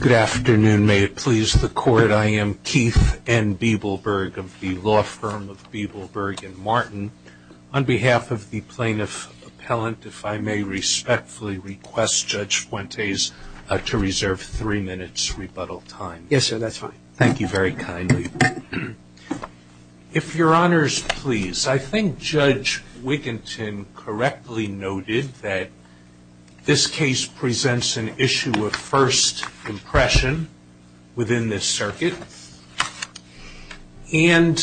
Good afternoon. May it please the Court, I am Keith N. Bibelberg of the law firm of Bibelberg & Martin. On behalf of the plaintiff appellant, if I may respectfully request Judge Fuentes to reserve three minutes rebuttal time. Yes, sir, that's fine. Thank you very kindly. If your honors please, I think Judge Wiginton correctly noted that this case presents an issue of first impression within this circuit. And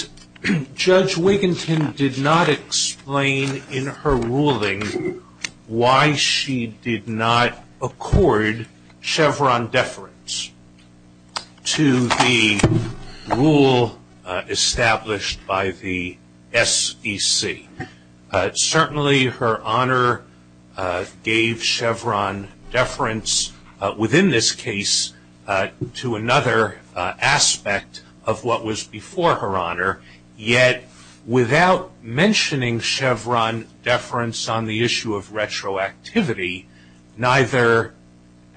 Judge Wiginton did not explain in her ruling why she did not accord Chevron deference to the rule established by the SEC. Certainly, her honor gave Chevron deference within this case to another aspect of what was before her honor. Yet, without mentioning Chevron deference on the issue of retroactivity, neither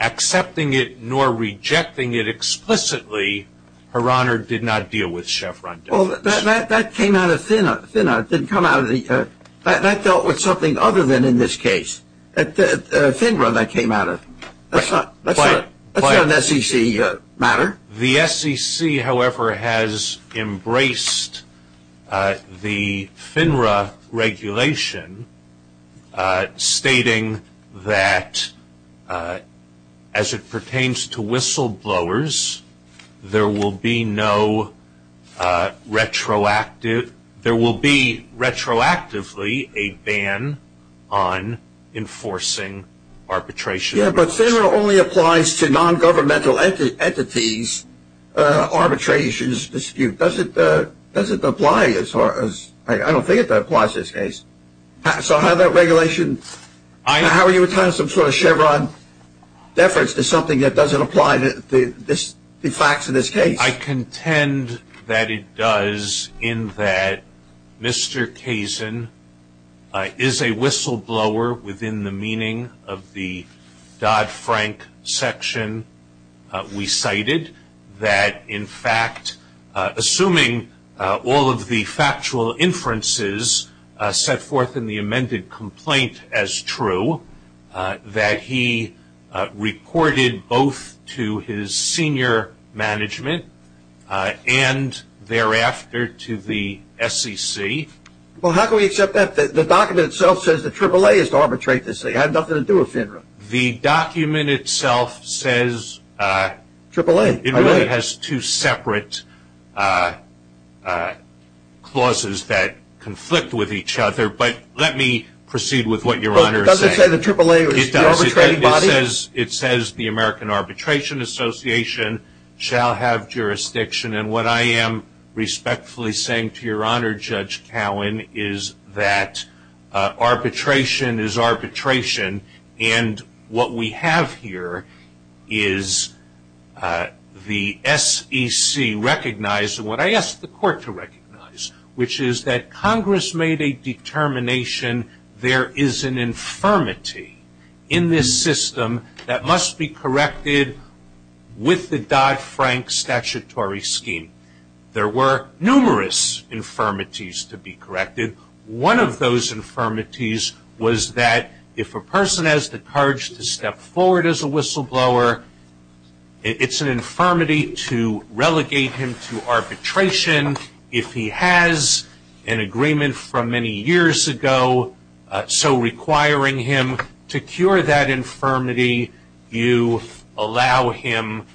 accepting it nor rejecting it explicitly, her honor did not deal with Chevron deference. Well, that came out of FINRA, it didn't come out of the, that dealt with something other than in this case. At FINRA that came out of, that's not an SEC matter. The SEC, however, has embraced the FINRA regulation stating that as it pertains to whistleblowers, there will be no retroactive, there will be retroactively a ban on enforcing arbitration. Yeah, but FINRA only applies to non-governmental entities arbitrations dispute. Does it, does it apply as far as, I don't think it applies to this case. So how that regulation, how are you attaching some sort of Chevron deference to something that doesn't apply to the facts of this case? I contend that it does in that Mr. Kazin is a whistleblower within the meaning of the Dodd-Frank section we cited. that in fact, assuming all of the factual inferences set forth in the amended complaint as true, that he reported both to his senior management and thereafter to the SEC. Well, how can we accept that? The document itself says that AAA is to arbitrate this thing, I have nothing to do with FINRA. The document itself says, it really has two separate clauses that conflict with each other, but let me proceed with what your Honor is saying. It doesn't say that AAA is the arbitrating body? It says the American Arbitration Association shall have jurisdiction and what I am respectfully saying to your Honor Judge Cowen is that arbitration is arbitration. And what we have here is the SEC recognizing what I asked the court to recognize, which is that Congress made a determination there is an infirmity in this system that must be corrected with the Dodd-Frank statutory scheme. There were numerous infirmities to be corrected. One of those infirmities was that if a person has the courage to step forward as a whistleblower, it's an infirmity to relegate him to arbitration. If he has an agreement from many years ago, so requiring him to cure that infirmity, you allow him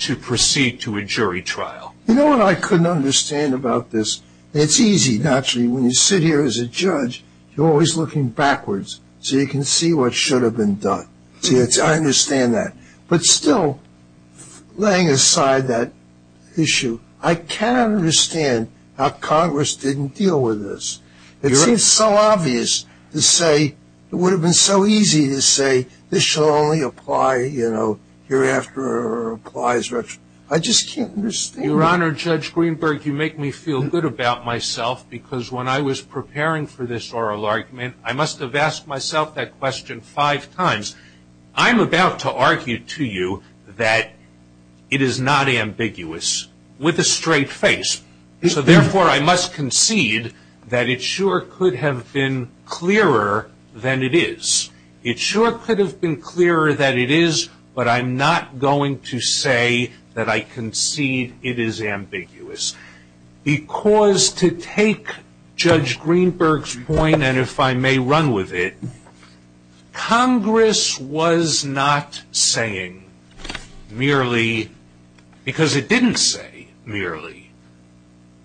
to proceed to a jury trial. You know what I couldn't understand about this? It's easy, naturally, when you sit here as a judge, you're always looking backwards so you can see what should have been done. I understand that. But still, laying aside that issue, I cannot understand how Congress didn't deal with this. It seems so obvious to say, it would have been so easy to say, this shall only apply, you know, hereafter or applies retro. I just can't understand. Your Honor, Judge Greenberg, you make me feel good about myself because when I was preparing for this oral argument, I must have asked myself that question five times. I'm about to argue to you that it is not ambiguous with a straight face. So, therefore, I must concede that it sure could have been clearer than it is. It sure could have been clearer than it is, but I'm not going to say that I concede it is ambiguous. Because to take Judge Greenberg's point, and if I may run with it, Congress was not saying merely, because it didn't say merely,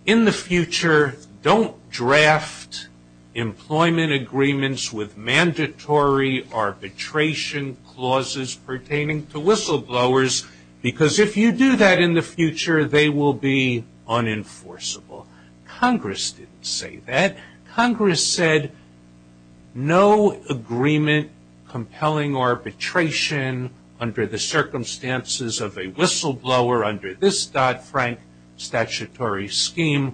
in the future, don't draft employment agreements with mandatory arbitration clauses pertaining to whistleblowers, because if you do that in the future, they will be unenforceable. Congress didn't say that. Congress said no agreement compelling arbitration under the circumstances of a whistleblower under this Dodd-Frank statutory scheme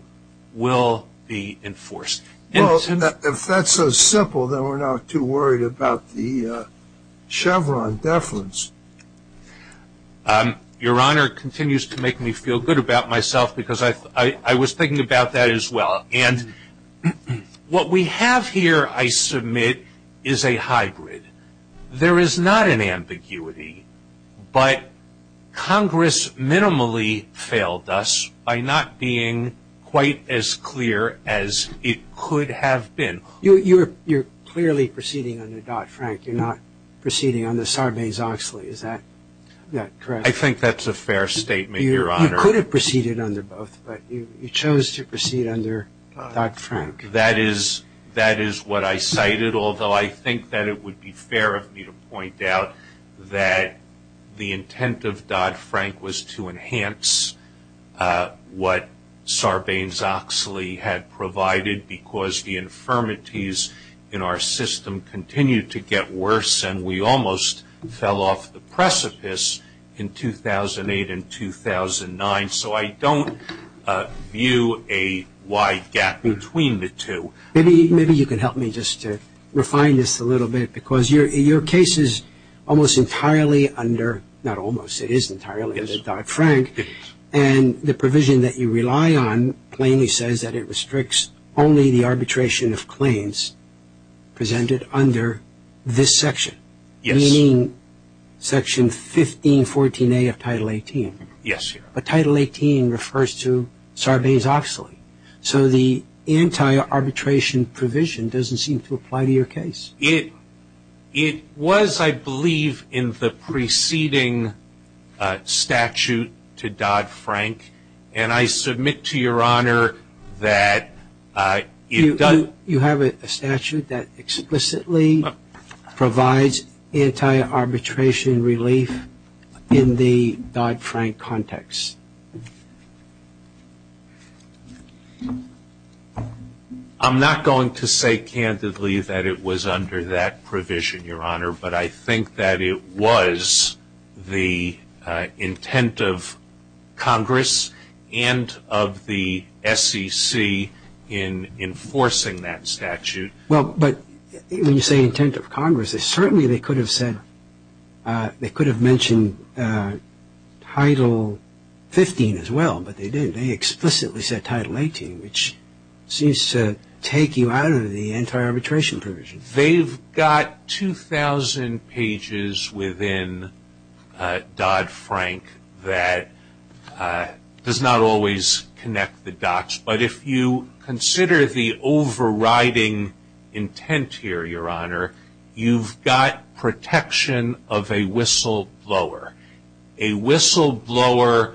will be enforced. Well, if that's so simple, then we're not too worried about the Chevron deference. Your Honor, it continues to make me feel good about myself because I was thinking about that as well. And what we have here, I submit, is a hybrid. There is not an ambiguity, but Congress minimally failed us by not being quite as clear as it could have been. You're clearly proceeding under Dodd-Frank. You're not proceeding under Sarbanes-Oxley. Is that correct? I think that's a fair statement, Your Honor. You could have proceeded under both, but you chose to proceed under Dodd-Frank. That is what I cited, although I think that it would be fair of me to point out that the intent of Dodd-Frank was to enhance what Sarbanes-Oxley had provided because the infirmities in our system continued to get worse, and we almost fell off the precipice in 2008 and 2009. So I don't view a wide gap between the two. Maybe you can help me just to refine this a little bit because your case is almost entirely under – not almost, it is entirely under Dodd-Frank. And the provision that you rely on plainly says that it restricts only the arbitration of claims presented under this section, meaning Section 1514A of Title 18. Yes, Your Honor. But Title 18 refers to Sarbanes-Oxley. So the anti-arbitration provision doesn't seem to apply to your case. It was, I believe, in the preceding statute to Dodd-Frank, and I submit to Your Honor that it doesn't – You have a statute that explicitly provides anti-arbitration relief in the Dodd-Frank context. I'm not going to say candidly that it was under that provision, Your Honor, but I think that it was the intent of Congress and of the SEC in enforcing that statute. Well, but when you say intent of Congress, certainly they could have said – as well, but they didn't. They explicitly said Title 18, which seems to take you out of the anti-arbitration provision. They've got 2,000 pages within Dodd-Frank that does not always connect the dots. But if you consider the overriding intent here, Your Honor, you've got protection of a whistleblower. A whistleblower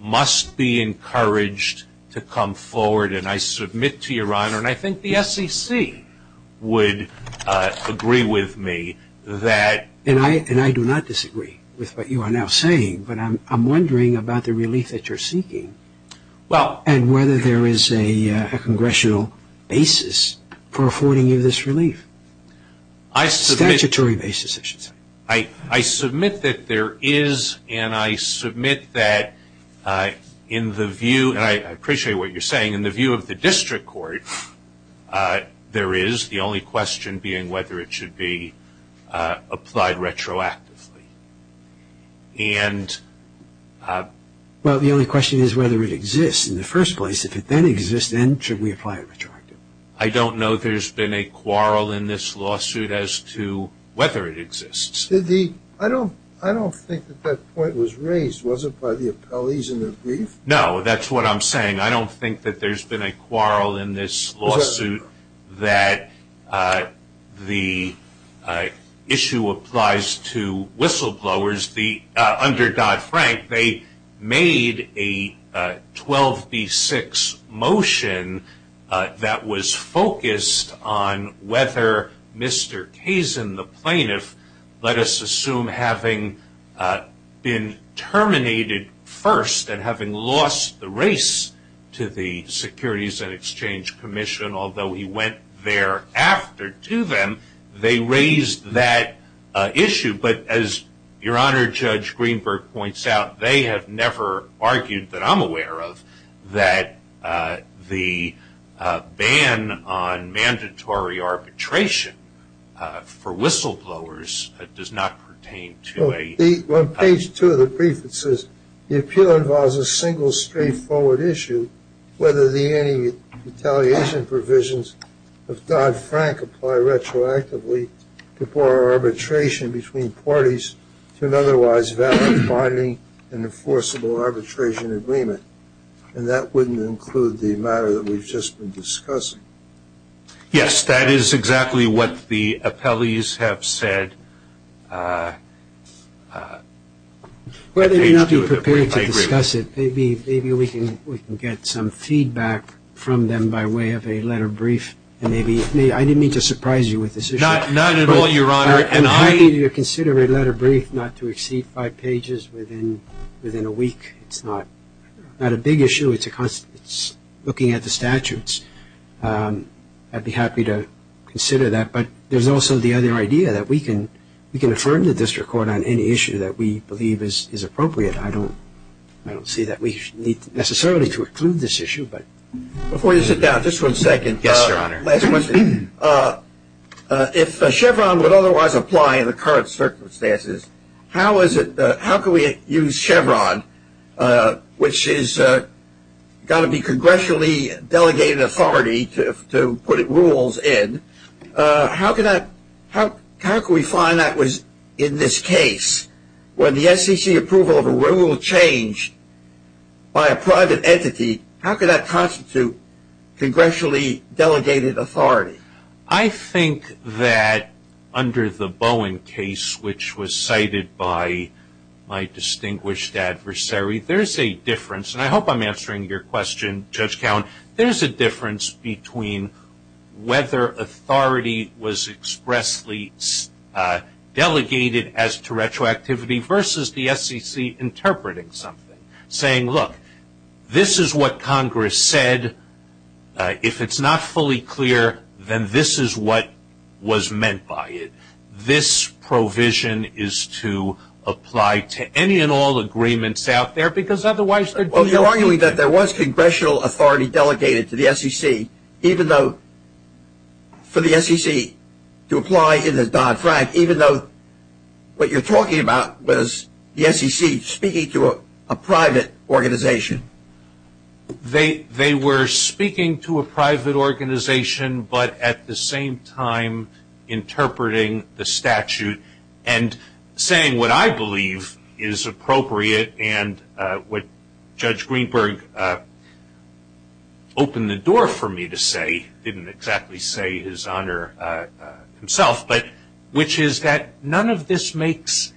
must be encouraged to come forward, and I submit to Your Honor, and I think the SEC would agree with me that – And I do not disagree with what you are now saying, but I'm wondering about the relief that you're seeking and whether there is a congressional basis for affording you this relief. Statutory basis, I should say. I submit that there is, and I submit that in the view – and I appreciate what you're saying – in the view of the district court, there is the only question being whether it should be applied retroactively. And – Well, the only question is whether it exists in the first place. I don't know if there's been a quarrel in this lawsuit as to whether it exists. I don't think that that point was raised. Was it by the appellees in their brief? No, that's what I'm saying. I don't think that there's been a quarrel in this lawsuit that the issue applies to whistleblowers. Under Dodd-Frank, they made a 12B6 motion that was focused on whether Mr. Kazin, the plaintiff, let us assume having been terminated first and having lost the race to the Securities and Exchange Commission, although he went thereafter to them, they raised that issue. But as Your Honor, Judge Greenberg points out, they have never argued that I'm aware of that the ban on mandatory arbitration for whistleblowers does not pertain to a – On page two of the brief, it says, the appeal involves a single straightforward issue, whether the anti-retaliation provisions of Dodd-Frank apply retroactively to poor arbitration between parties to an otherwise valid binding and enforceable arbitration agreement. And that wouldn't include the matter that we've just been discussing. Yes, that is exactly what the appellees have said. Well, they may not be prepared to discuss it. Maybe we can get some feedback from them by way of a letter brief and maybe – I didn't mean to surprise you with this issue. Not at all, Your Honor. I'm happy to consider a letter brief not to exceed five pages within a week. It's not a big issue. It's looking at the statutes. I'd be happy to consider that. But there's also the other idea that we can affirm the district court on any issue that we believe is appropriate. I don't see that we need necessarily to include this issue. Before you sit down, just one second. Yes, Your Honor. Last question. If Chevron would otherwise apply in the current circumstances, how can we use Chevron, which has got to be congressionally delegated authority to put rules in? How can we find that was in this case? When the SEC approval of a rule changed by a private entity, how could that constitute congressionally delegated authority? I think that under the Bowen case, which was cited by my distinguished adversary, there's a difference. And I hope I'm answering your question, Judge Cowen. There's a difference between whether authority was expressly delegated as to retroactivity versus the SEC interpreting something, saying, look, this is what Congress said. If it's not fully clear, then this is what was meant by it. This provision is to apply to any and all agreements out there, because otherwise there'd be no agreement. Well, you're arguing that there was congressional authority delegated to the SEC, even though for the SEC to apply in the Dodd-Frank, even though what you're talking about was the SEC speaking to a private organization. They were speaking to a private organization, but at the same time interpreting the statute and saying what I believe is appropriate and what Judge Greenberg opened the door for me to say, didn't exactly say his honor himself, which is that none of this makes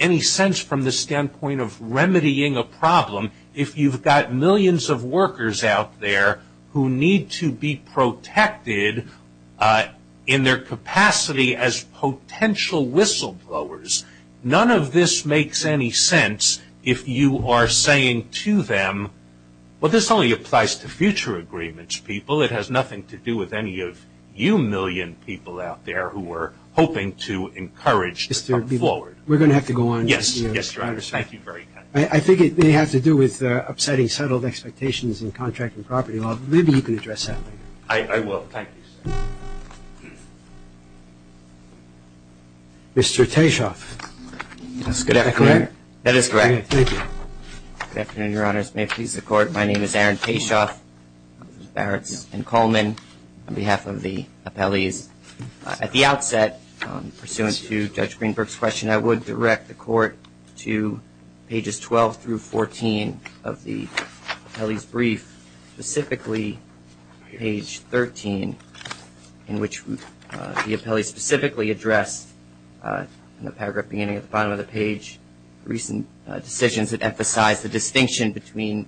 any sense from the standpoint of remedying a problem if you've got millions of workers out there who need to be protected in their capacity as potential whistleblowers. None of this makes any sense if you are saying to them, well, this only applies to future agreements, people. Well, it has nothing to do with any of you million people out there who are hoping to encourage them forward. We're going to have to go on. Yes, Your Honor. Thank you very much. I think it may have to do with upsetting settled expectations in contracting property law. Maybe you can address that later. I will. Thank you, sir. Mr. Tayshoff. Is that correct? That is correct. Thank you. Good afternoon, Your Honors. May it please the Court, my name is Aaron Tayshoff. Barretts and Coleman on behalf of the appellees. At the outset, pursuant to Judge Greenberg's question, I would direct the Court to pages 12 through 14 of the appellee's brief, specifically page 13 in which the appellee specifically addressed, in the paragraph beginning at the bottom of the page, recent decisions that emphasize the distinction between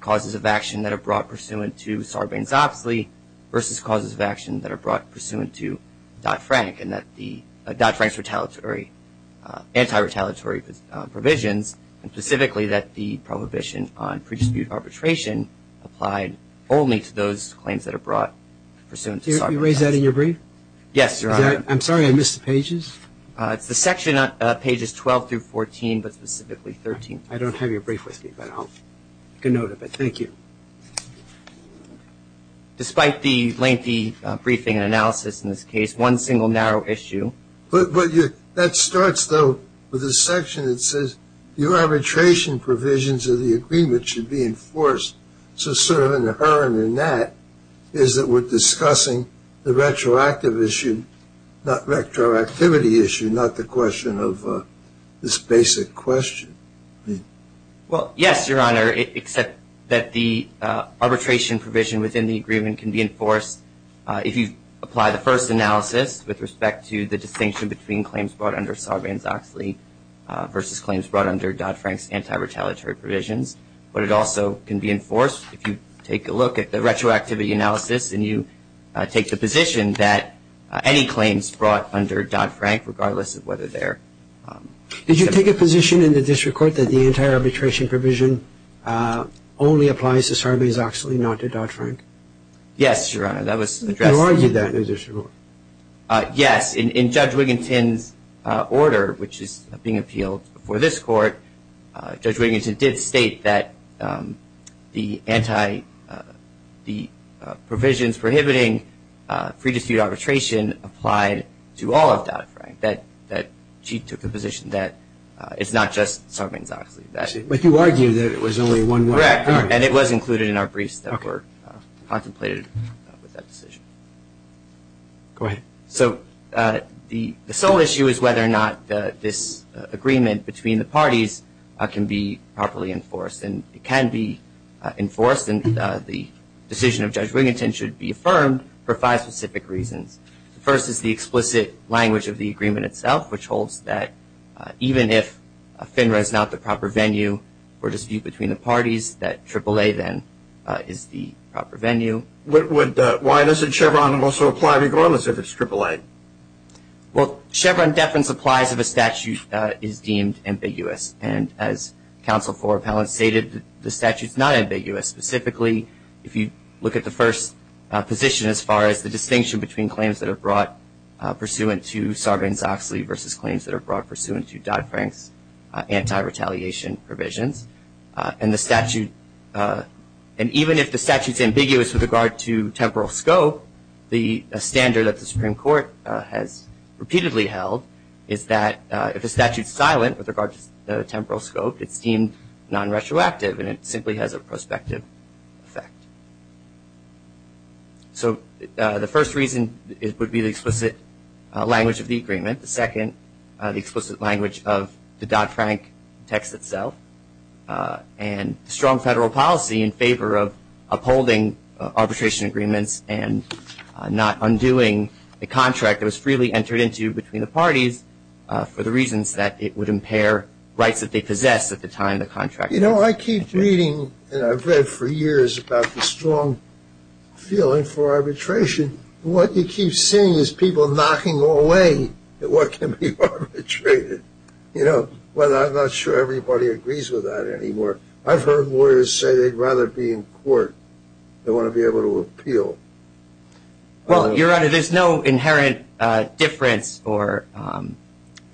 causes of action that are brought pursuant to Sarbanes-Oxley versus causes of action that are brought pursuant to Dodd-Frank and that the Dodd-Frank's retaliatory, anti-retaliatory provisions, and specifically that the prohibition on pre-dispute arbitration applied only to those claims that are brought pursuant to Sarbanes-Oxley. You raised that in your brief? Yes, Your Honor. I'm sorry, I missed the pages. It's the section on pages 12 through 14, but specifically 13. I don't have your brief with me, but I'll get a note of it. Thank you. Despite the lengthy briefing and analysis in this case, one single narrow issue. That starts, though, with a section that says your arbitration provisions of the agreement should be enforced. So sort of inherent in that is that we're discussing the retroactive issue, not retroactivity issue, not the question of this basic question. Well, yes, Your Honor, except that the arbitration provision within the agreement can be enforced if you apply the first analysis with respect to the distinction between claims brought under Sarbanes-Oxley versus claims brought under Dodd-Frank's anti-retaliatory provisions. But it also can be enforced if you take a look at the retroactivity analysis and you take the position that any claims brought under Dodd-Frank, regardless of whether they're ______. Did you take a position in the district court that the entire arbitration provision only applies to Sarbanes-Oxley, not to Dodd-Frank? Yes, Your Honor, that was addressed. You argued that in the district court? Yes. In Judge Wiginton's order, which is being appealed before this court, Judge Wiginton did state that the provisions prohibiting free dispute arbitration applied to all of Dodd-Frank, that she took a position that it's not just Sarbanes-Oxley. But you argued that it was only one way. Correct, and it was included in our briefs that were contemplated with that decision. Go ahead. So the sole issue is whether or not this agreement between the parties can be properly enforced. And it can be enforced, and the decision of Judge Wiginton should be affirmed for five specific reasons. The first is the explicit language of the agreement itself, which holds that even if FINRA is not the proper venue for dispute between the parties, that AAA then is the proper venue. Why doesn't Chevron also apply to Gorman's if it's AAA? Well, Chevron deference applies if a statute is deemed ambiguous. And as Counsel for Appellants stated, the statute's not ambiguous. Specifically, if you look at the first position as far as the distinction between claims that are brought pursuant to Sarbanes-Oxley versus claims that are brought pursuant to Dodd-Frank's anti-retaliation provisions, and even if the statute's ambiguous with regard to temporal scope, the standard that the Supreme Court has repeatedly held is that if a statute's silent with regard to temporal scope, it's deemed non-retroactive, and it simply has a prospective effect. So the first reason would be the explicit language of the agreement. The second, the explicit language of the Dodd-Frank text itself, and strong federal policy in favor of upholding arbitration agreements and not undoing a contract that was freely entered into between the parties for the reasons that it would impair rights that they possessed at the time the contract was signed. You know, I keep reading, and I've read for years about the strong feeling for arbitration. What you keep seeing is people knocking away at what can be arbitrated. You know, I'm not sure everybody agrees with that anymore. I've heard lawyers say they'd rather be in court. They want to be able to appeal. Well, Your Honor, there's no inherent difference or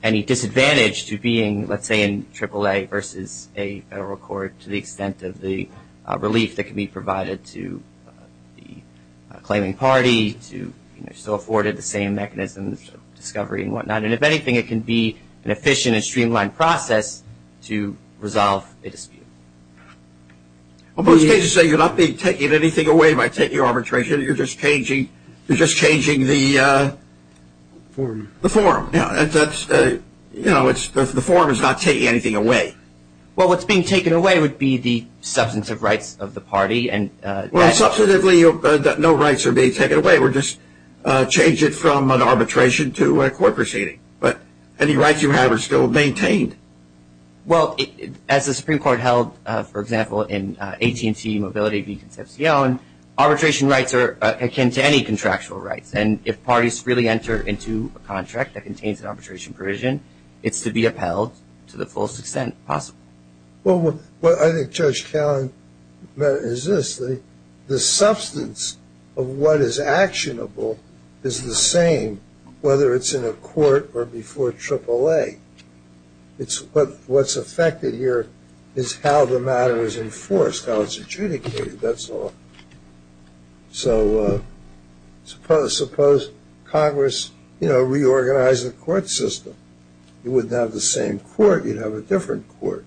any disadvantage to being, let's say, in AAA versus a federal court to the extent of the relief that can be provided to the claiming party to, you know, still afforded the same mechanisms of discovery and whatnot. And if anything, it can be an efficient and streamlined process to resolve a dispute. Well, most cases say you're not taking anything away by taking arbitration. You're just changing the form. You know, the form is not taking anything away. Well, what's being taken away would be the substantive rights of the party. Well, substantively, no rights are being taken away. We're just changing from an arbitration to a court proceeding. But any rights you have are still maintained. Well, as the Supreme Court held, for example, in AT&T Mobility v. Concepcion, arbitration rights are akin to any contractual rights. And if parties freely enter into a contract that contains an arbitration provision, it's to be upheld to the fullest extent possible. Well, what I think Judge Callan meant is this, the substance of what is actionable is the same whether it's in a court or before AAA. What's affected here is how the matter is enforced, how it's adjudicated, that's all. So suppose Congress, you know, reorganized the court system. You wouldn't have the same court. You'd have a different court,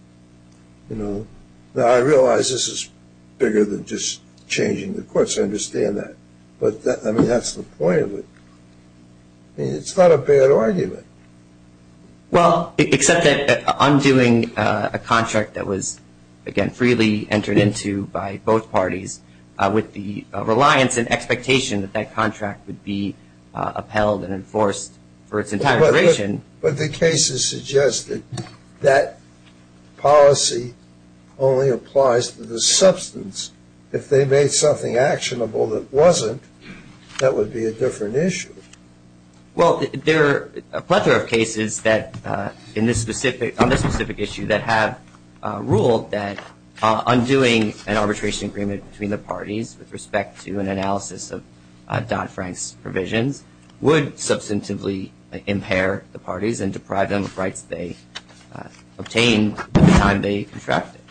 you know. Now, I realize this is bigger than just changing the courts. I understand that. But, I mean, that's the point of it. I mean, it's not a bad argument. Well, except that undoing a contract that was, again, freely entered into by both parties with the reliance and expectation that that contract would be upheld and enforced for its entire duration. But the case has suggested that policy only applies to the substance. If they made something actionable that wasn't, that would be a different issue. Well, there are a plethora of cases on this specific issue that have ruled that undoing an arbitration agreement between the parties with respect to an analysis of Don Frank's provisions would substantively impair the parties and deprive them of rights they obtained at the time they contracted.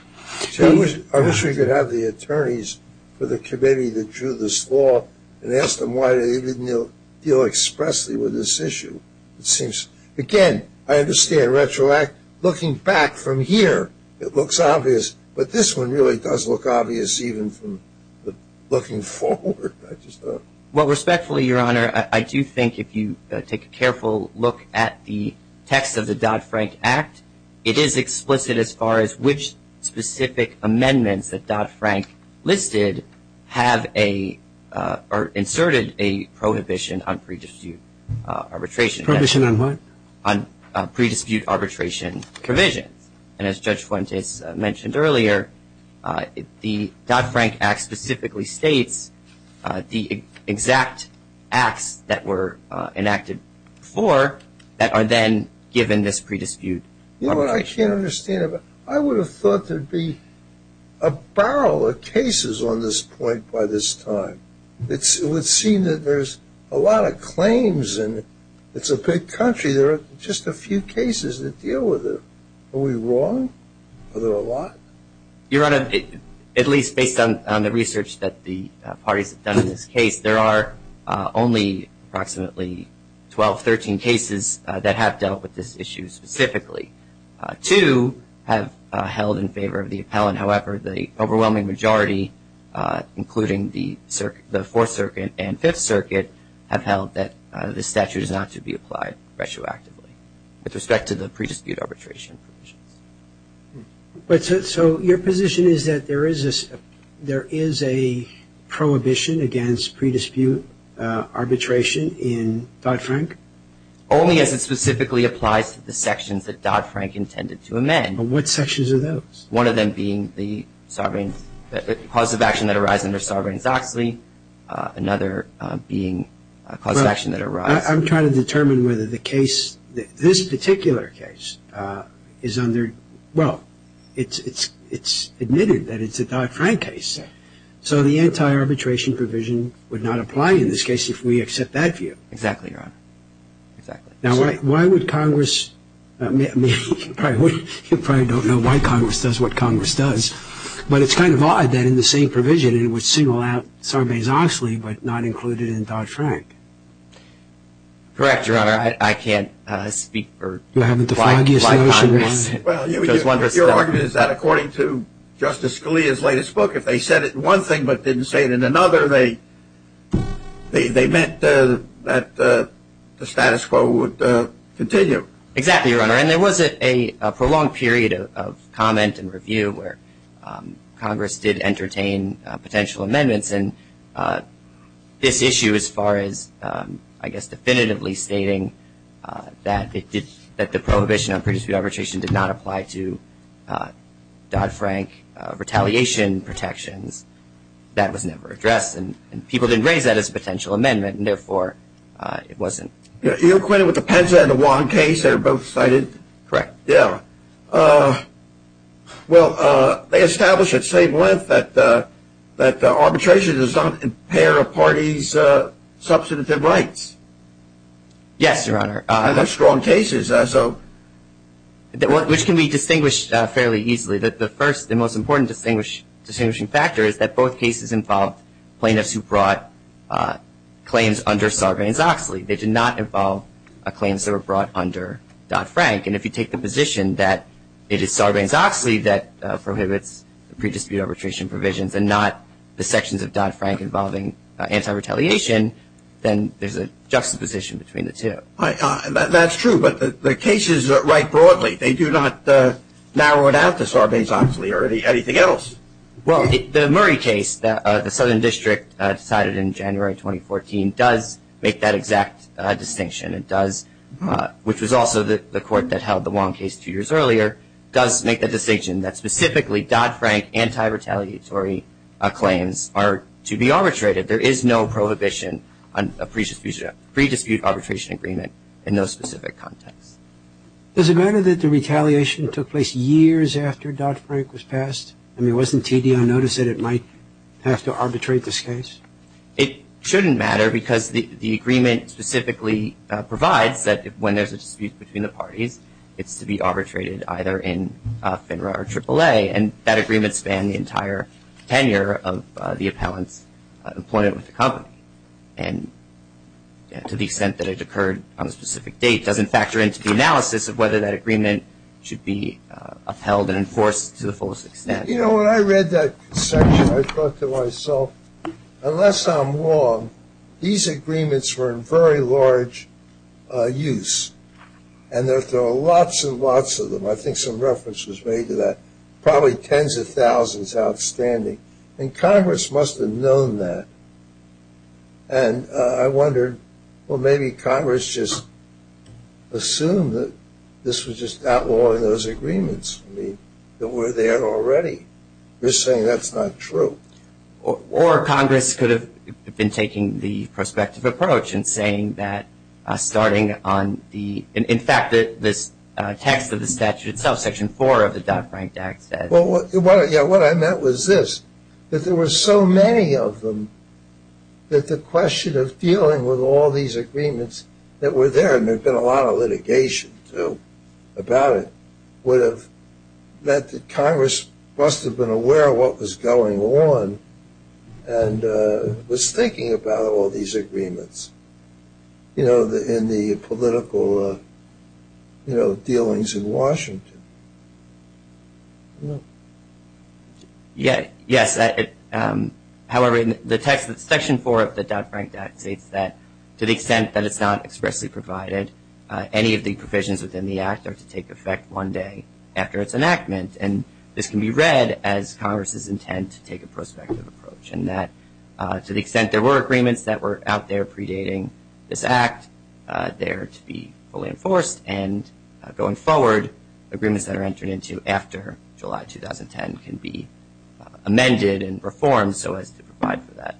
I wish we could have the attorneys for the committee that drew this law and asked them why they didn't deal expressly with this issue. It seems, again, I understand retroact. Looking back from here, it looks obvious. But this one really does look obvious even from looking forward. Well, respectfully, Your Honor, I do think if you take a careful look at the text of the Dodd-Frank Act, it is explicit as far as which specific amendments that Dodd-Frank listed have a or inserted a prohibition on pre-dispute arbitration. Prohibition on what? On pre-dispute arbitration provisions. And as Judge Fuentes mentioned earlier, the Dodd-Frank Act specifically states the exact acts that were enacted before that are then given this pre-dispute. You know what, I can't understand it. I would have thought there would be a barrel of cases on this point by this time. It would seem that there's a lot of claims and it's a big country. There are just a few cases that deal with it. Are we wrong? Are there a lot? Your Honor, at least based on the research that the parties have done in this case, there are only approximately 12, 13 cases that have dealt with this issue specifically. Two have held in favor of the appellant. However, the overwhelming majority, including the Fourth Circuit and Fifth Circuit have held that the statute is not to be applied retroactively with respect to the pre-dispute arbitration provisions. So your position is that there is a prohibition against pre-dispute arbitration in Dodd-Frank? Only as it specifically applies to the sections that Dodd-Frank intended to amend. What sections are those? One of them being the cause of action that arises under Sovereign Zoxley. Another being a cause of action that arises. I'm trying to determine whether the case, this particular case, is under, well, it's admitted that it's a Dodd-Frank case. So the anti-arbitration provision would not apply in this case if we accept that view. Exactly, Your Honor. Now, why would Congress, you probably don't know why Congress does what Congress does, but it's kind of odd that in the same provision it would single out Sovereign Zoxley but not include it in Dodd-Frank. Correct, Your Honor. I can't speak for why Congress does what Congress does. Your argument is that according to Justice Scalia's latest book, if they said it in one thing but didn't say it in another, they meant that the status quo would continue. Exactly, Your Honor. And there was a prolonged period of comment and review where Congress did entertain potential amendments and this issue as far as, I guess, definitively stating that it did, that the prohibition on pre-dispute arbitration did not apply to Dodd-Frank retaliation protections, that was never addressed and people didn't raise that as a potential amendment and, therefore, it wasn't. Are you acquainted with the Penza and the Wong case that are both cited? Correct. Yeah. Well, they establish at same length that arbitration does not impair a party's substantive rights. Yes, Your Honor. And they're strong cases. Which can be distinguished fairly easily. The first and most important distinguishing factor is that both cases involved plaintiffs who brought claims under Sovereign Zoxley. They did not involve claims that were brought under Dodd-Frank. And if you take the position that it is Sovereign Zoxley that prohibits pre-dispute arbitration provisions and not the sections of Dodd-Frank involving anti-retaliation, then there's a juxtaposition between the two. That's true. But the cases write broadly. They do not narrow it out to Sovereign Zoxley or anything else. Well, the Murray case, the Southern District decided in January 2014, does make that exact distinction. It does, which was also the court that held the Wong case two years earlier, does make the distinction that specifically Dodd-Frank anti-retaliatory claims are to be arbitrated. There is no prohibition on a pre-dispute arbitration agreement in those specific contexts. Does it matter that the retaliation took place years after Dodd-Frank was passed? I mean, wasn't TD on notice that it might have to arbitrate this case? It shouldn't matter because the agreement specifically provides that when there's a dispute between the parties, it's to be arbitrated either in FINRA or AAA, and that agreement spanned the entire tenure of the appellant's employment with the company. And to the extent that it occurred on a specific date doesn't factor into the analysis of whether that agreement should be upheld and enforced to the fullest extent. You know, when I read that section, I thought to myself, unless I'm wrong, these agreements were in very large use. And there are lots and lots of them. I think some reference was made to that. Probably tens of thousands outstanding. And Congress must have known that. And I wondered, well, maybe Congress just assumed that this was just outlawing those agreements. I mean, they were there already. You're saying that's not true. Or Congress could have been taking the prospective approach and saying that starting on the – in fact, this text of the statute itself, Section 4 of the Dodd-Frank Act, said – Well, what I meant was this, that there were so many of them that the question of dealing with all these agreements that were there, and there had been a lot of litigation about it, would have – that Congress must have been aware of what was going on and was thinking about all these agreements, you know, in the political dealings in Washington. Yes. Yes. However, the text of Section 4 of the Dodd-Frank Act states that to the extent that it's not expressly provided, any of the provisions within the Act are to take effect one day after its enactment. And this can be read as Congress's intent to take a prospective approach, and that to the extent there were agreements that were out there predating this Act, they are to be fully enforced. And going forward, agreements that are entered into after July 2010 can be amended and reformed so as to provide for that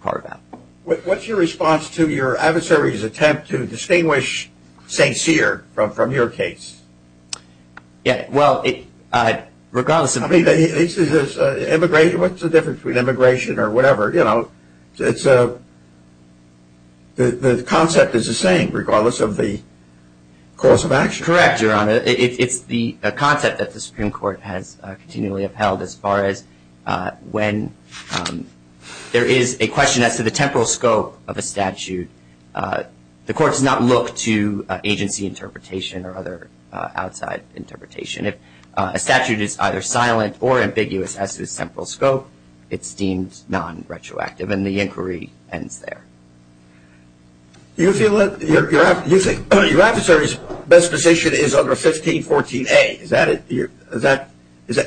carve-out. What's your response to your adversary's attempt to distinguish St. Cyr from your case? Yeah, well, regardless of – I mean, this is – what's the difference between immigration or whatever? It's a – the concept is the same regardless of the course of action. Correct, Your Honor. It's the concept that the Supreme Court has continually upheld as far as when there is a question as to the temporal scope of a statute. The Court does not look to agency interpretation or other outside interpretation. If a statute is either silent or ambiguous as to its temporal scope, it's deemed non-retroactive, and the inquiry ends there. Do you feel that your adversary's best position is under 1514A? Is that – do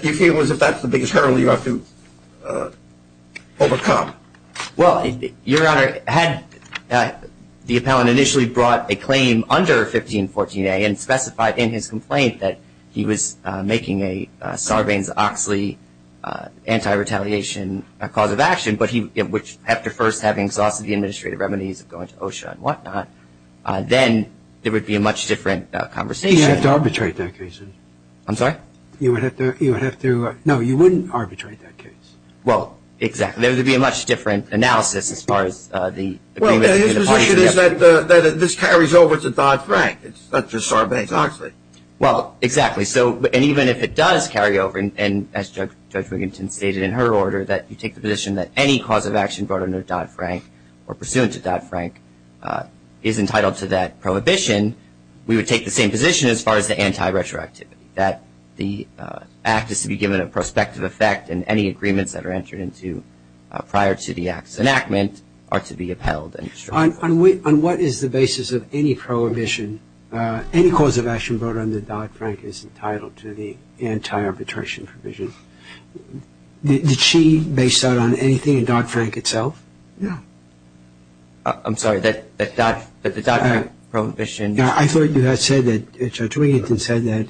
you feel as if that's the biggest hurdle you have to overcome? Well, Your Honor, had the appellant initially brought a claim under 1514A and specified in his complaint that he was making a Sarbanes-Oxley anti-retaliation cause of action, but he – which after first having exhausted the administrative remedies of going to OSHA and whatnot, then there would be a much different conversation. You'd have to arbitrate that case. I'm sorry? You would have to – no, you wouldn't arbitrate that case. Well, exactly. His position is that this carries over to Dodd-Frank, not just Sarbanes-Oxley. Well, exactly. So – and even if it does carry over, and as Judge Wiginton stated in her order, that you take the position that any cause of action brought under Dodd-Frank or pursuant to Dodd-Frank is entitled to that prohibition, we would take the same position as far as the anti-retroactivity, that the act is to be given a prospective effect, and any agreements that are entered into prior to the act's enactment are to be upheld. On what is the basis of any prohibition, any cause of action brought under Dodd-Frank is entitled to the anti-arbitration provision. Did she base that on anything in Dodd-Frank itself? No. I'm sorry, that the Dodd-Frank prohibition – I thought you had said that – Judge Wiginton said that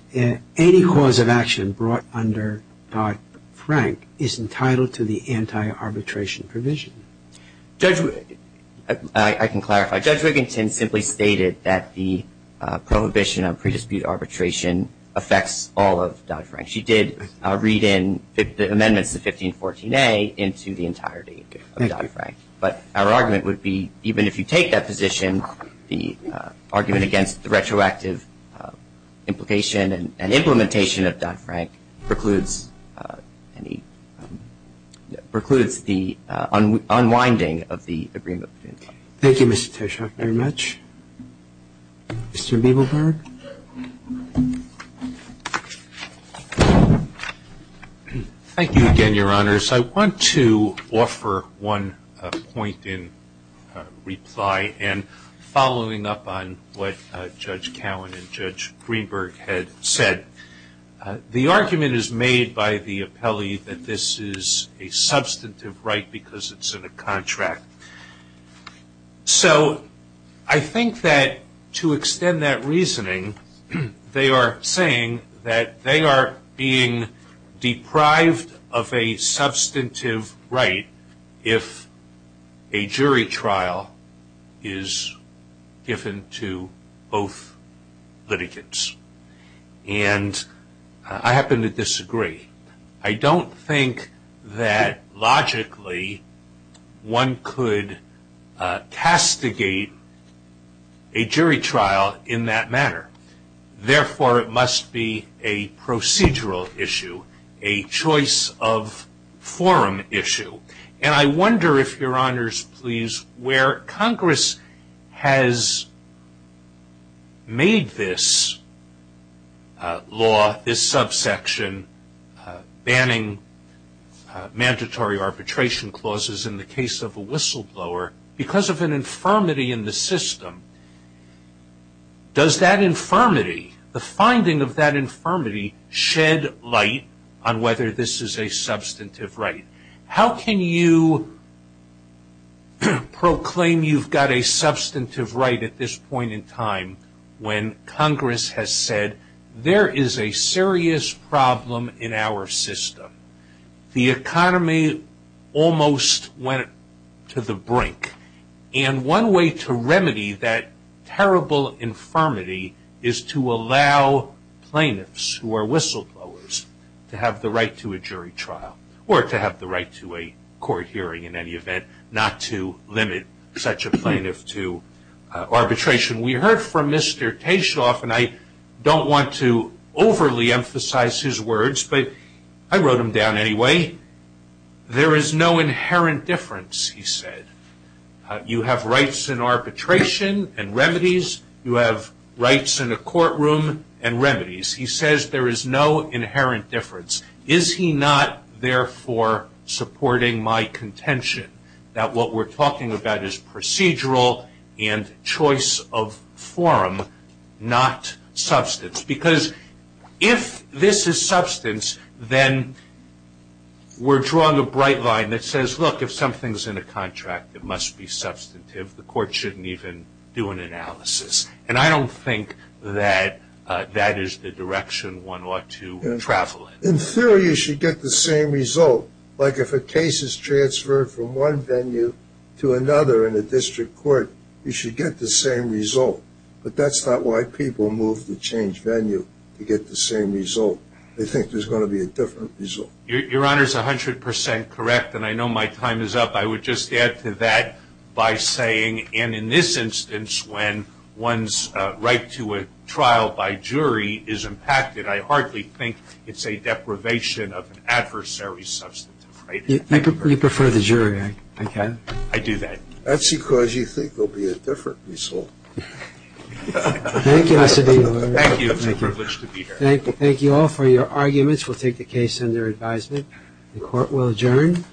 any cause of action brought under Dodd-Frank is entitled to the anti-arbitration provision. Judge – I can clarify. Judge Wiginton simply stated that the prohibition of pre-dispute arbitration affects all of Dodd-Frank. She did read in the amendments to 1514A into the entirety of Dodd-Frank. But our argument would be even if you take that position, the argument against the retroactive implication and implementation of Dodd-Frank precludes any – precludes the unwinding of the agreement. Thank you, Mr. Tishok, very much. Mr. Biebelberg. Thank you again, Your Honors. I want to offer one point in reply and following up on what Judge Cowan and Judge Greenberg had said. The argument is made by the appellee that this is a substantive right because it's in a contract. So I think that to extend that reasoning, they are saying that they are being deprived of a substantive right if a jury trial is given to both litigants. And I happen to disagree. I don't think that logically one could castigate a jury trial in that manner. Therefore, it must be a procedural issue, a choice of forum issue. And I wonder if Your Honors, please, where Congress has made this law, this subsection, banning mandatory arbitration clauses in the case of a whistleblower because of an infirmity in the system. Does that infirmity, the finding of that infirmity, shed light on whether this is a substantive right? How can you proclaim you've got a substantive right at this point in time when Congress has said there is a serious problem in our system? The economy almost went to the brink. And one way to remedy that terrible infirmity is to allow plaintiffs who are whistleblowers to have the right to a jury trial or to have the right to a court hearing in any event, not to limit such a plaintiff to arbitration. We heard from Mr. Tashoff, and I don't want to overly emphasize his words, but I wrote them down anyway. There is no inherent difference, he said. You have rights in arbitration and remedies. You have rights in a courtroom and remedies. He says there is no inherent difference. Is he not, therefore, supporting my contention that what we're talking about is procedural and choice of forum, not substance? Because if this is substance, then we're drawing a bright line that says, look, if something's in a contract, it must be substantive. The court shouldn't even do an analysis. And I don't think that that is the direction one ought to travel in. In theory, you should get the same result. Like if a case is transferred from one venue to another in a district court, you should get the same result. But that's not why people move to change venue, to get the same result. They think there's going to be a different result. Your Honor is 100% correct, and I know my time is up. I would just add to that by saying, and in this instance, when one's right to a trial by jury is impacted, I hardly think it's a deprivation of an adversary's substantive right. You prefer the jury, I can. I do that. That's because you think there will be a different result. Thank you, Mr. Dean. Thank you. It's a privilege to be here. Thank you all for your arguments. We'll take the case under advisement. The court will adjourn.